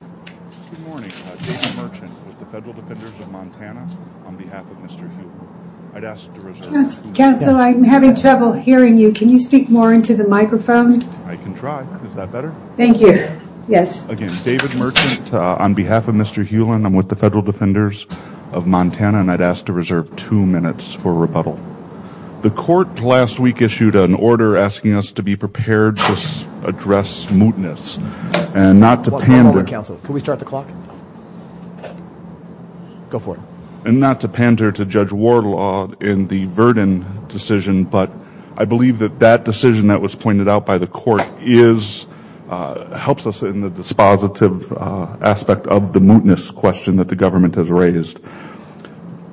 Good morning, David Merchant with the Federal Defenders of Montana on behalf of Mr. Hulen. I'd ask to reserve two minutes for rebuttal. Counsel, I'm having trouble hearing you. Can you speak more into the microphone? I can try. Is that better? Thank you. Yes. Again, David Merchant on behalf of Mr. Hulen. I'm with the Federal Defenders of Montana. And I'd ask to reserve two minutes for rebuttal. The court last week issued an order asking us to be prepared to address mootness and not to pander. Good morning, counsel. Can we start the clock? Go for it. And not to pander to Judge Wardlaw in the Verdin decision, but I believe that that decision that was pointed out by the court is, helps us in the dispositive aspect of the mootness question that the government has raised.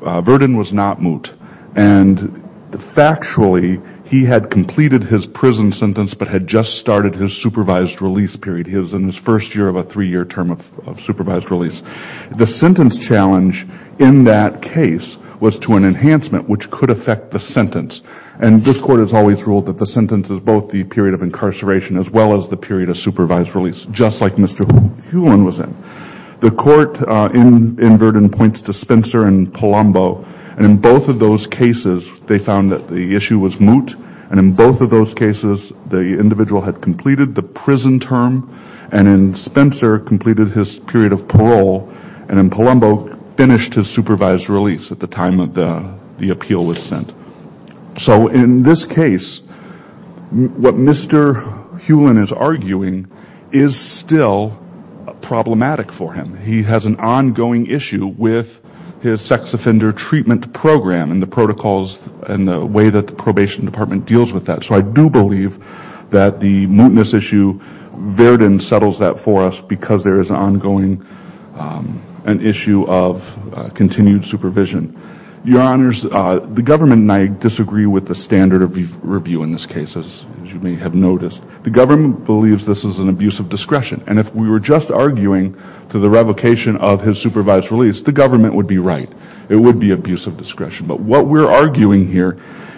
Verdin was not moot. And factually, he had completed his prison sentence but had just started his supervised release period. He was in his first year of a three-year term of supervised release. The sentence challenge in that case was to an enhancement which could affect the sentence. And this court has always ruled that the sentence is both the period of incarceration as well as the period of supervised release, just like Mr. Hulen was in. The court in Verdin points to Spencer and Palumbo. And in both of those cases, they found that the issue was moot. And in both of those cases, the individual had completed the prison term and then Spencer completed his period of parole, and then Palumbo finished his supervised release at the time the appeal was sent. So in this case, what Mr. Hulen is arguing is still problematic for him. He has an ongoing issue with his sex offender treatment program and the protocols and the way that the probation department deals with that. So I do believe that the mootness issue, Verdin settles that for us because there is an ongoing issue of continued supervision. Your Honors, the government and I disagree with the standard of review in this case, as you may have noticed. The government believes this is an abuse of discretion. And if we were just arguing to the revocation of his supervised release, the government would be right. It would be abuse of discretion. But what we're arguing here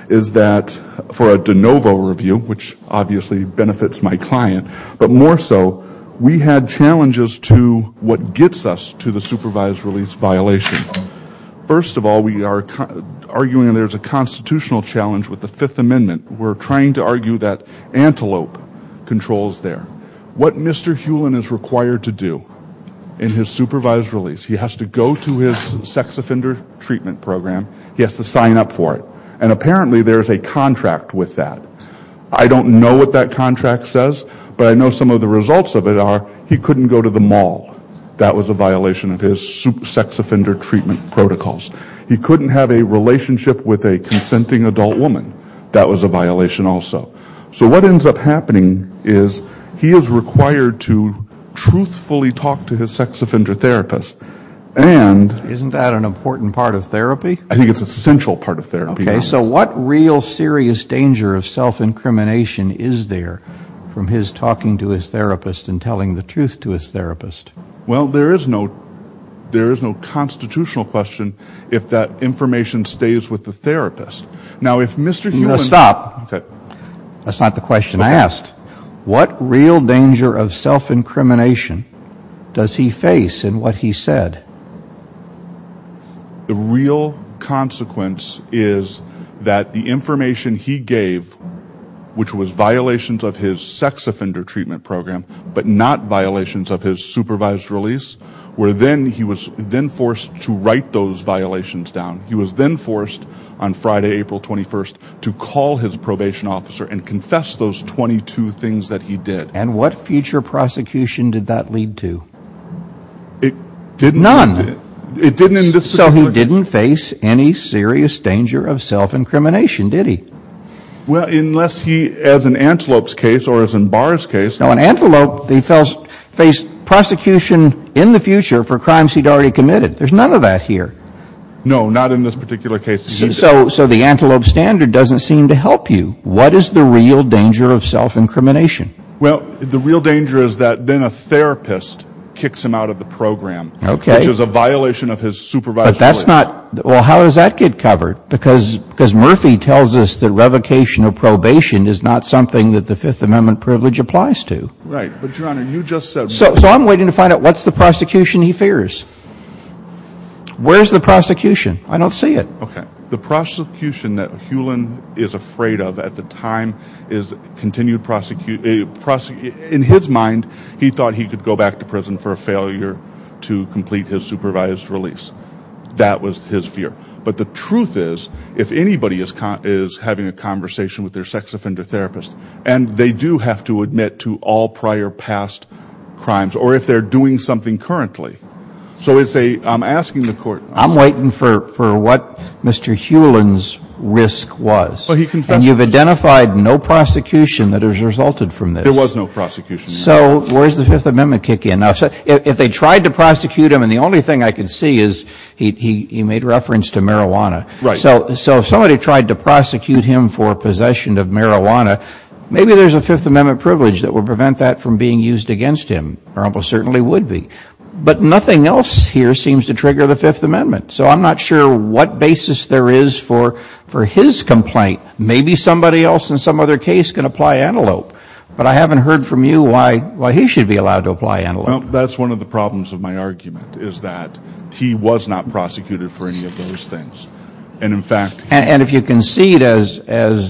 is that for a de novo review, which obviously benefits my client, but more so we had challenges to what gets us to the supervised release violation. First of all, we are arguing there's a constitutional challenge with the Fifth Amendment. We're trying to argue that antelope controls there. What Mr. Hulen is required to do in his supervised release, he has to go to his sex offender treatment program, he has to sign up for it. And apparently there's a contract with that. I don't know what that contract says, but I know some of the results of it are he couldn't go to the mall. That was a violation of his sex offender treatment protocols. He couldn't have a relationship with a consenting adult woman. That was a violation also. So what ends up happening is he is required to truthfully talk to his sex offender therapist. Isn't that an important part of therapy? I think it's an essential part of therapy. So what real serious danger of self-incrimination is there from his talking to his therapist and telling the truth to his therapist? Well, there is no constitutional question if that information stays with the therapist. Stop. That's not the question I asked. What real danger of self-incrimination does he face in what he said? The real consequence is that the information he gave, which was violations of his sex offender treatment program, but not violations of his supervised release, where then he was then forced to write those violations down. He was then forced on Friday, April 21st, to call his probation officer and confess those 22 things that he did. And what future prosecution did that lead to? None. So he didn't face any serious danger of self-incrimination, did he? Well, unless he, as in Antelope's case or as in Barr's case. No, in Antelope, he faced prosecution in the future for crimes he'd already committed. There's none of that here. No, not in this particular case. So the Antelope standard doesn't seem to help you. What is the real danger of self-incrimination? Well, the real danger is that then a therapist kicks him out of the program. Okay. Which is a violation of his supervised release. But that's not – well, how does that get covered? Because Murphy tells us that revocation of probation is not something that the Fifth Amendment privilege applies to. Right. But, Your Honor, you just said – So I'm waiting to find out what's the prosecution he fears. Where's the prosecution? I don't see it. Okay. The prosecution that Hewlin is afraid of at the time is continued – in his mind, he thought he could go back to prison for a failure to complete his supervised release. That was his fear. But the truth is, if anybody is having a conversation with their sex offender therapist and they do have to admit to all prior past crimes or if they're doing something currently, so it's a – I'm asking the court – I'm waiting for what Mr. Hewlin's risk was. Well, he confessed. And you've identified no prosecution that has resulted from this. There was no prosecution. So where does the Fifth Amendment kick in? If they tried to prosecute him – and the only thing I can see is he made reference to marijuana. Right. So if somebody tried to prosecute him for possession of marijuana, maybe there's a Fifth Amendment privilege that would prevent that from being used against him, or almost certainly would be. But nothing else here seems to trigger the Fifth Amendment. So I'm not sure what basis there is for his complaint. Maybe somebody else in some other case can apply antelope. But I haven't heard from you why he should be allowed to apply antelope. Well, that's one of the problems of my argument, is that he was not prosecuted for any of those things. And in fact – And if you concede, as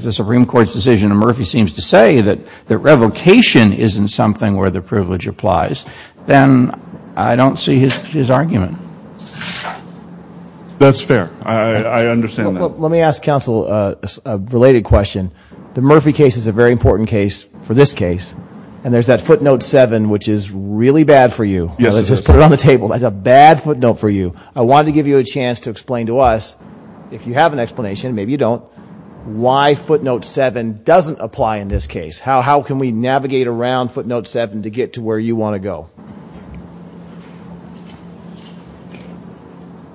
the Supreme Court's decision in Murphy seems to say, that revocation isn't something where the privilege applies, then I don't see his argument. That's fair. I understand that. Let me ask counsel a related question. The Murphy case is a very important case for this case. And there's that footnote 7, which is really bad for you. Yes, it is. Let's just put it on the table. That's a bad footnote for you. I wanted to give you a chance to explain to us, if you have an explanation, maybe you don't, why footnote 7 doesn't apply in this case. How can we navigate around footnote 7 to get to where you want to go?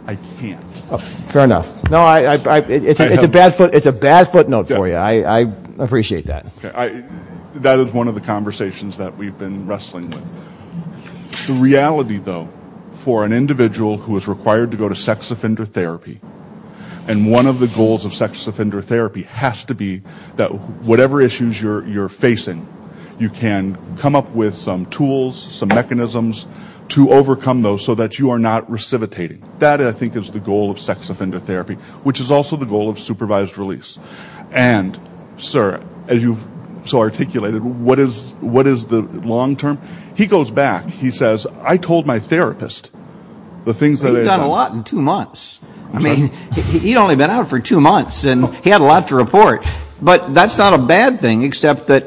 I can't. Fair enough. It's a bad footnote for you. I appreciate that. That is one of the conversations that we've been wrestling with. The reality, though, for an individual who is required to go to sex offender therapy, and one of the goals of sex offender therapy has to be that whatever issues you're facing, you can come up with some tools, some mechanisms to overcome those so that you are not recidivitating. That, I think, is the goal of sex offender therapy, which is also the goal of supervised release. And, sir, as you've so articulated, what is the long term? He goes back. He says, I told my therapist, He's done a lot in two months. I mean, he'd only been out for two months, and he had a lot to report. But that's not a bad thing, except that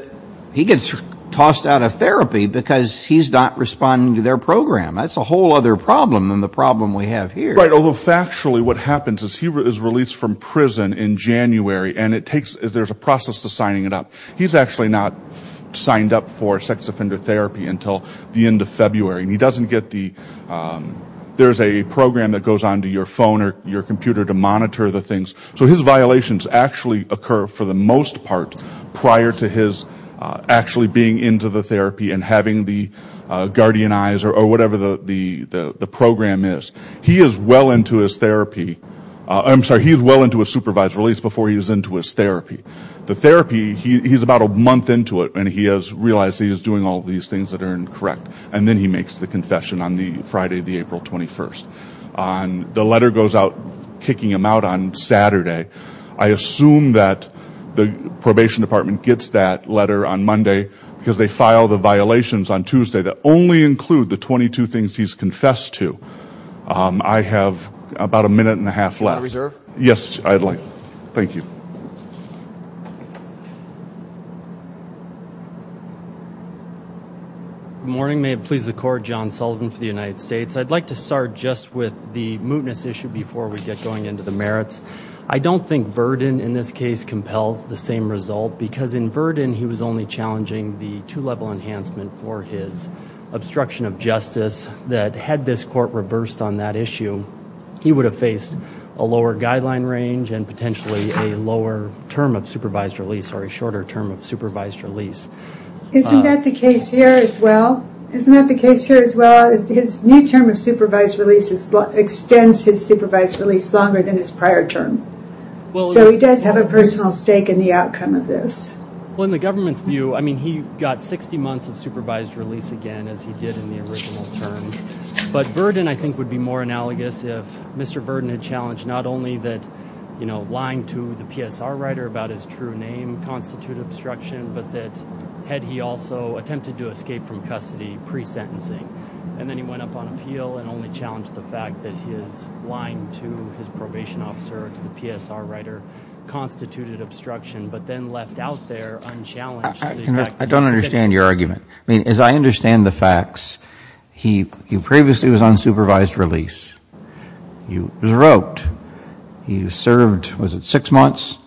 he gets tossed out of therapy because he's not responding to their program. That's a whole other problem than the problem we have here. Although, factually, what happens is he is released from prison in January, and there's a process to signing it up. He's actually not signed up for sex offender therapy until the end of February, and he doesn't get the, there's a program that goes onto your phone or your computer to monitor the things. So his violations actually occur, for the most part, prior to his actually being into the therapy and having the guardian eyes or whatever the program is. He is well into his therapy. I'm sorry, he is well into his supervised release before he is into his therapy. The therapy, he's about a month into it, and he has realized he is doing all these things that are incorrect, and then he makes the confession on the Friday of the April 21st. The letter goes out kicking him out on Saturday. I assume that the probation department gets that letter on Monday because they file the violations on Tuesday that only include the 22 things he's confessed to. I have about a minute and a half left. Yes, I'd like. Thank you. Good morning. May it please the Court, John Sullivan for the United States. I'd like to start just with the mootness issue before we get going into the merits. I don't think Verdin, in this case, compels the same result, because in Verdin he was only challenging the two-level enhancement for his obstruction of justice that, had this court reversed on that issue, he would have faced a lower guideline range and potentially a lower term of supervised release or a shorter term of supervised release. Isn't that the case here as well? Isn't that the case here as well? His new term of supervised release extends his supervised release longer than his prior term. So he does have a personal stake in the outcome of this. Well, in the government's view, I mean, he got 60 months of supervised release again, as he did in the original term. But Verdin, I think, would be more analogous if Mr. Verdin had challenged not only that, you know, lying to the PSR writer about his true name constituted obstruction, but that had he also attempted to escape from custody pre-sentencing. And then he went up on appeal and only challenged the fact that his lying to his probation officer or to the PSR writer constituted obstruction, but then left out there unchallenged. I don't understand your argument. I mean, as I understand the facts, he previously was on supervised release. He was roped. He served, was it six months,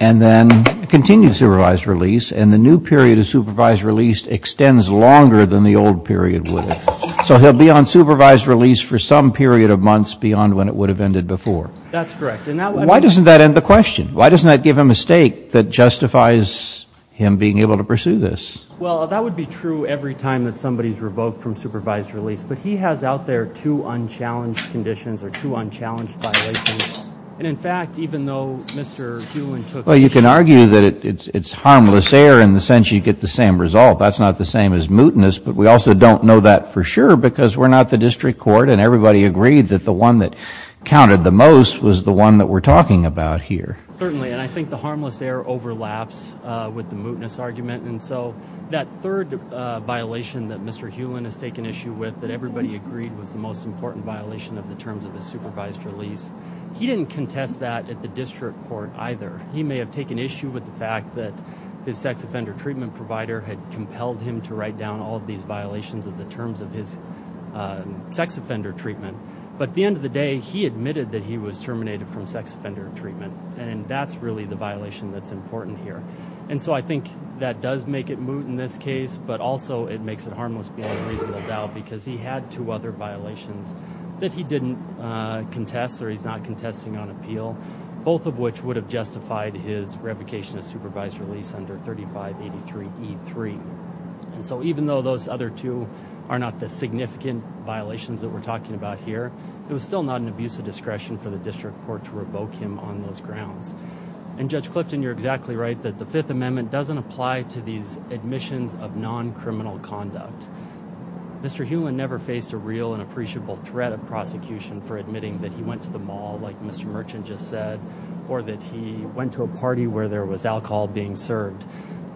and then continued supervised release. And the new period of supervised release extends longer than the old period would have. So he'll be on supervised release for some period of months beyond when it would have ended before. That's correct. Why doesn't that end the question? Why doesn't that give him a stake that justifies him being able to pursue this? Well, that would be true every time that somebody is revoked from supervised release. But he has out there two unchallenged conditions or two unchallenged violations. And, in fact, even though Mr. Doolin took it. Well, you can argue that it's harmless error in the sense you get the same result. That's not the same as mootness. But we also don't know that for sure because we're not the district court, and everybody agreed that the one that counted the most was the one that we're talking about here. Certainly. And I think the harmless error overlaps with the mootness argument. And so that third violation that Mr. Hewlin has taken issue with, that everybody agreed was the most important violation of the terms of the supervised release, he didn't contest that at the district court either. He may have taken issue with the fact that his sex offender treatment provider had compelled him to write down all of these violations of the terms of his sex offender treatment. But at the end of the day, he admitted that he was terminated from sex offender treatment. And that's really the violation that's important here. And so I think that does make it moot in this case, but also it makes it harmless beyond reasonable doubt because he had two other violations that he didn't contest or he's not contesting on appeal, both of which would have justified his revocation of supervised release under 3583E3. And so even though those other two are not the significant violations that we're talking about here, it was still not an abuse of discretion for the district court to revoke him on those grounds. And Judge Clifton, you're exactly right that the Fifth Amendment doesn't apply to these admissions of non-criminal conduct. Mr. Hewlin never faced a real and appreciable threat of prosecution for admitting that he went to the mall, like Mr. Merchant just said, or that he went to a party where there was alcohol being served.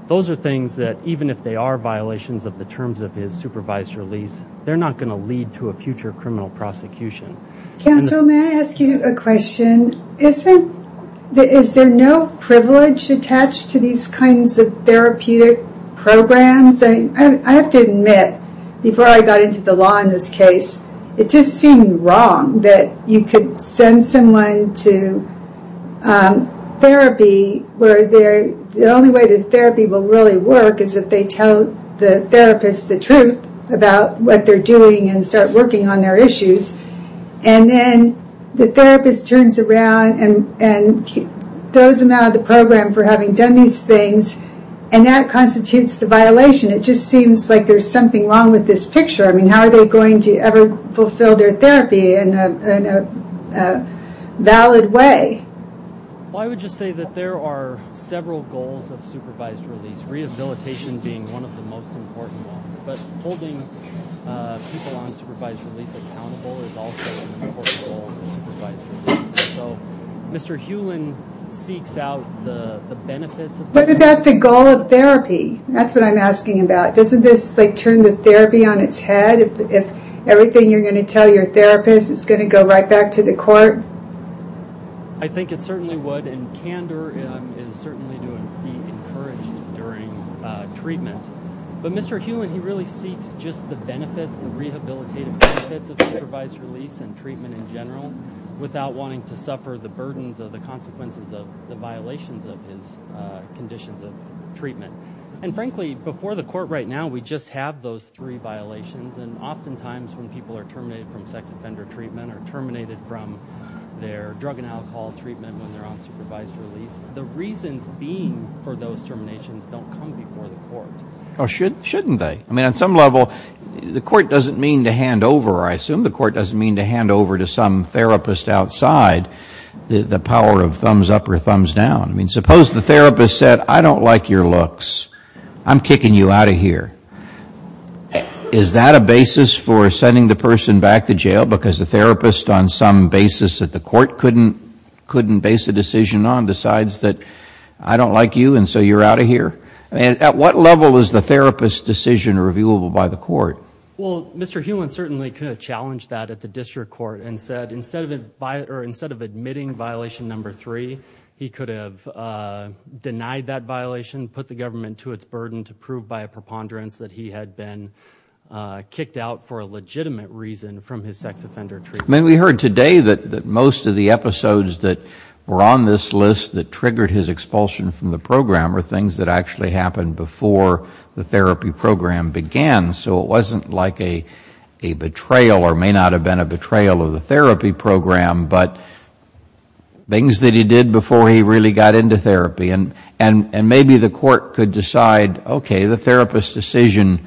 Those are things that even if they are violations of the terms of his supervised release, they're not going to lead to a future criminal prosecution. Counsel, may I ask you a question? Is there no privilege attached to these kinds of therapeutic programs? I have to admit, before I got into the law in this case, it just seemed wrong that you could send someone to therapy where the only way the therapy will really work is if they tell the therapist the truth about what they're doing and start working on their issues. And then the therapist turns around and throws them out of the program for having done these things, and that constitutes the violation. It just seems like there's something wrong with this picture. I mean, how are they going to ever fulfill their therapy in a valid way? Well, I would just say that there are several goals of supervised release, rehabilitation being one of the most important ones, but holding people on supervised release accountable is also an important goal. So Mr. Hewlin seeks out the benefits of that. What about the goal of therapy? That's what I'm asking about. Doesn't this turn the therapy on its head if everything you're going to tell your therapist is going to go right back to the court? I think it certainly would, and candor is certainly to be encouraged during treatment. But Mr. Hewlin, he really seeks just the benefits, the rehabilitative benefits of supervised release and treatment in general without wanting to suffer the burdens or the consequences of the violations of his conditions of treatment. And frankly, before the court right now, we just have those three violations, and oftentimes when people are terminated from sex offender treatment or terminated from their drug and alcohol treatment when they're on supervised release, the reasons being for those terminations don't come before the court. Oh, shouldn't they? I mean, on some level, the court doesn't mean to hand over, I assume the court doesn't mean to hand over to some therapist outside the power of thumbs up or thumbs down. I mean, suppose the therapist said, I don't like your looks. I'm kicking you out of here. Is that a basis for sending the person back to jail because the therapist on some basis that the court couldn't base a decision on decides that I don't like you and so you're out of here? At what level is the therapist's decision reviewable by the court? Well, Mr. Hewlin certainly could have challenged that at the district court and said instead of admitting violation number three, he could have denied that violation, put the government to its burden to prove by a preponderance that he had been kicked out for a legitimate reason from his sex offender treatment. I mean, we heard today that most of the episodes that were on this list that triggered his expulsion from the program were things that actually happened before the therapy program began. So it wasn't like a betrayal or may not have been a betrayal of the therapy program, but things that he did before he really got into therapy. And maybe the court could decide, okay, the therapist's decision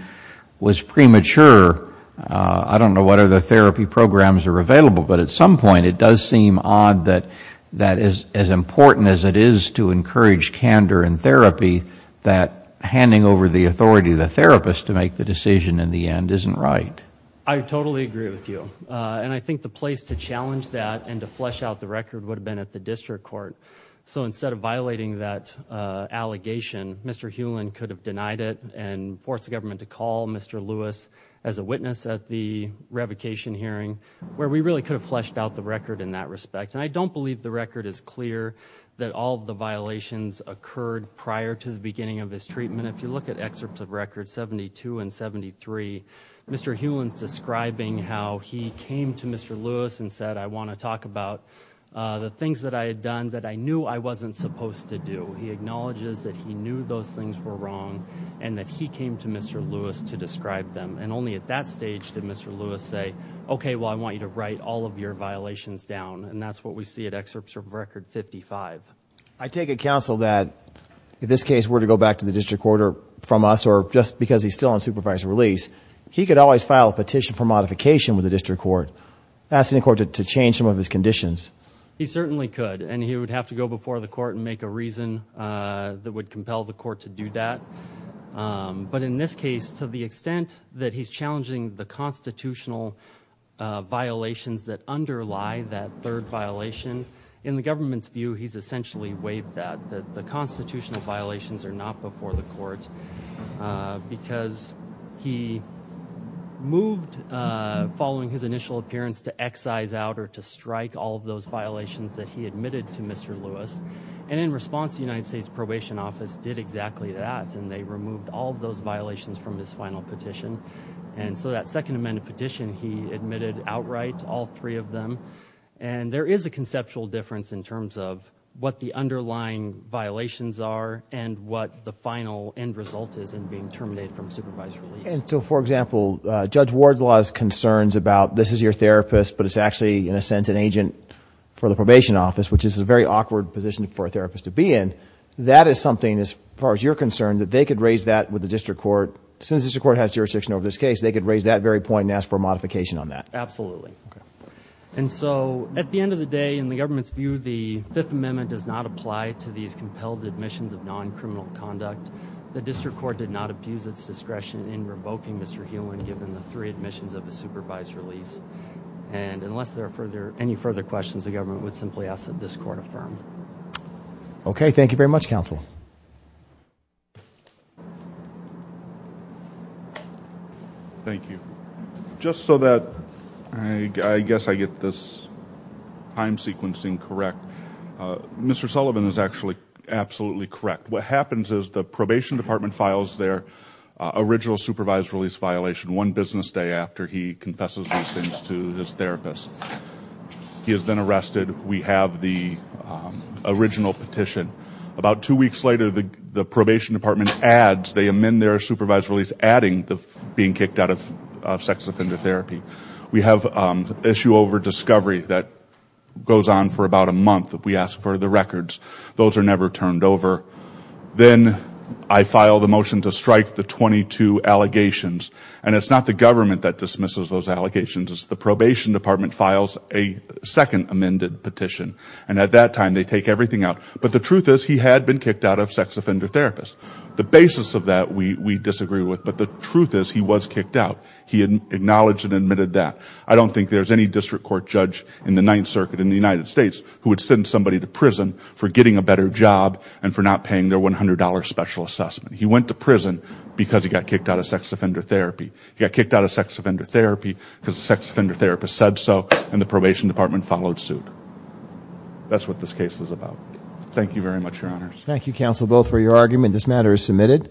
was premature. I don't know whether the therapy programs are available, but at some point it does seem odd that as important as it is to encourage candor in therapy, that handing over the authority to the therapist to make the decision in the end isn't right. I totally agree with you. And I think the place to challenge that and to flesh out the record would have been at the district court. So instead of violating that allegation, Mr. Hewlin could have denied it and forced the government to call Mr. Lewis as a witness at the revocation hearing, where we really could have fleshed out the record in that respect. And I don't believe the record is clear that all of the violations occurred prior to the beginning of his treatment. If you look at excerpts of records 72 and 73, Mr. Hewlin's describing how he came to Mr. Lewis and said, I want to talk about the things that I had done that I knew I wasn't supposed to do. He acknowledges that he knew those things were wrong and that he came to Mr. Lewis to describe them. And only at that stage did Mr. Lewis say, okay, well, I want you to write all of your violations down. And that's what we see in excerpts from record 55. I take it, counsel, that if this case were to go back to the district court from us or just because he's still on supervised release, he could always file a petition for modification with the district court, asking the court to change some of his conditions. He certainly could. And he would have to go before the court and make a reason that would compel the court to do that. But in this case, to the extent that he's challenging the constitutional violations that underlie that third violation, in the government's view, he's essentially waived that, that the constitutional violations are not before the court because he moved following his initial appearance to excise out in order to strike all of those violations that he admitted to Mr. Lewis. And in response, the United States Probation Office did exactly that, and they removed all of those violations from his final petition. And so that second amended petition, he admitted outright to all three of them. And there is a conceptual difference in terms of what the underlying violations are and what the final end result is in being terminated from supervised release. And so, for example, Judge Wardlaw's concerns about this is your therapist but it's actually, in a sense, an agent for the Probation Office, which is a very awkward position for a therapist to be in. That is something, as far as you're concerned, that they could raise that with the district court. Since the district court has jurisdiction over this case, they could raise that very point and ask for a modification on that. Absolutely. And so at the end of the day, in the government's view, the Fifth Amendment does not apply to these compelled admissions of non-criminal conduct. The district court did not abuse its discretion in revoking Mr. Hewlin given the three admissions of the supervised release. And unless there are any further questions, the government would simply ask that this court affirm. Okay. Thank you very much, counsel. Thank you. Just so that I guess I get this time sequencing correct, Mr. Sullivan is actually absolutely correct. What happens is the probation department files their original supervised release violation one business day after he confesses these things to his therapist. He is then arrested. We have the original petition. About two weeks later, the probation department adds, they amend their supervised release adding being kicked out of sex offender therapy. We have issue over discovery that goes on for about a month. We ask for the records. Those are never turned over. Then I file the motion to strike the 22 allegations. And it's not the government that dismisses those allegations. It's the probation department files a second amended petition. And at that time, they take everything out. But the truth is he had been kicked out of sex offender therapist. The basis of that we disagree with. But the truth is he was kicked out. He had acknowledged and admitted that. I don't think there's any district court judge in the Ninth Circuit in the United States who would send somebody to prison for getting a better job and for not paying their $100 special assessment. He went to prison because he got kicked out of sex offender therapy. He got kicked out of sex offender therapy because the sex offender therapist said so, and the probation department followed suit. That's what this case is about. Thank you very much, Your Honors. Thank you, Counsel Booth, for your argument. This matter is submitted.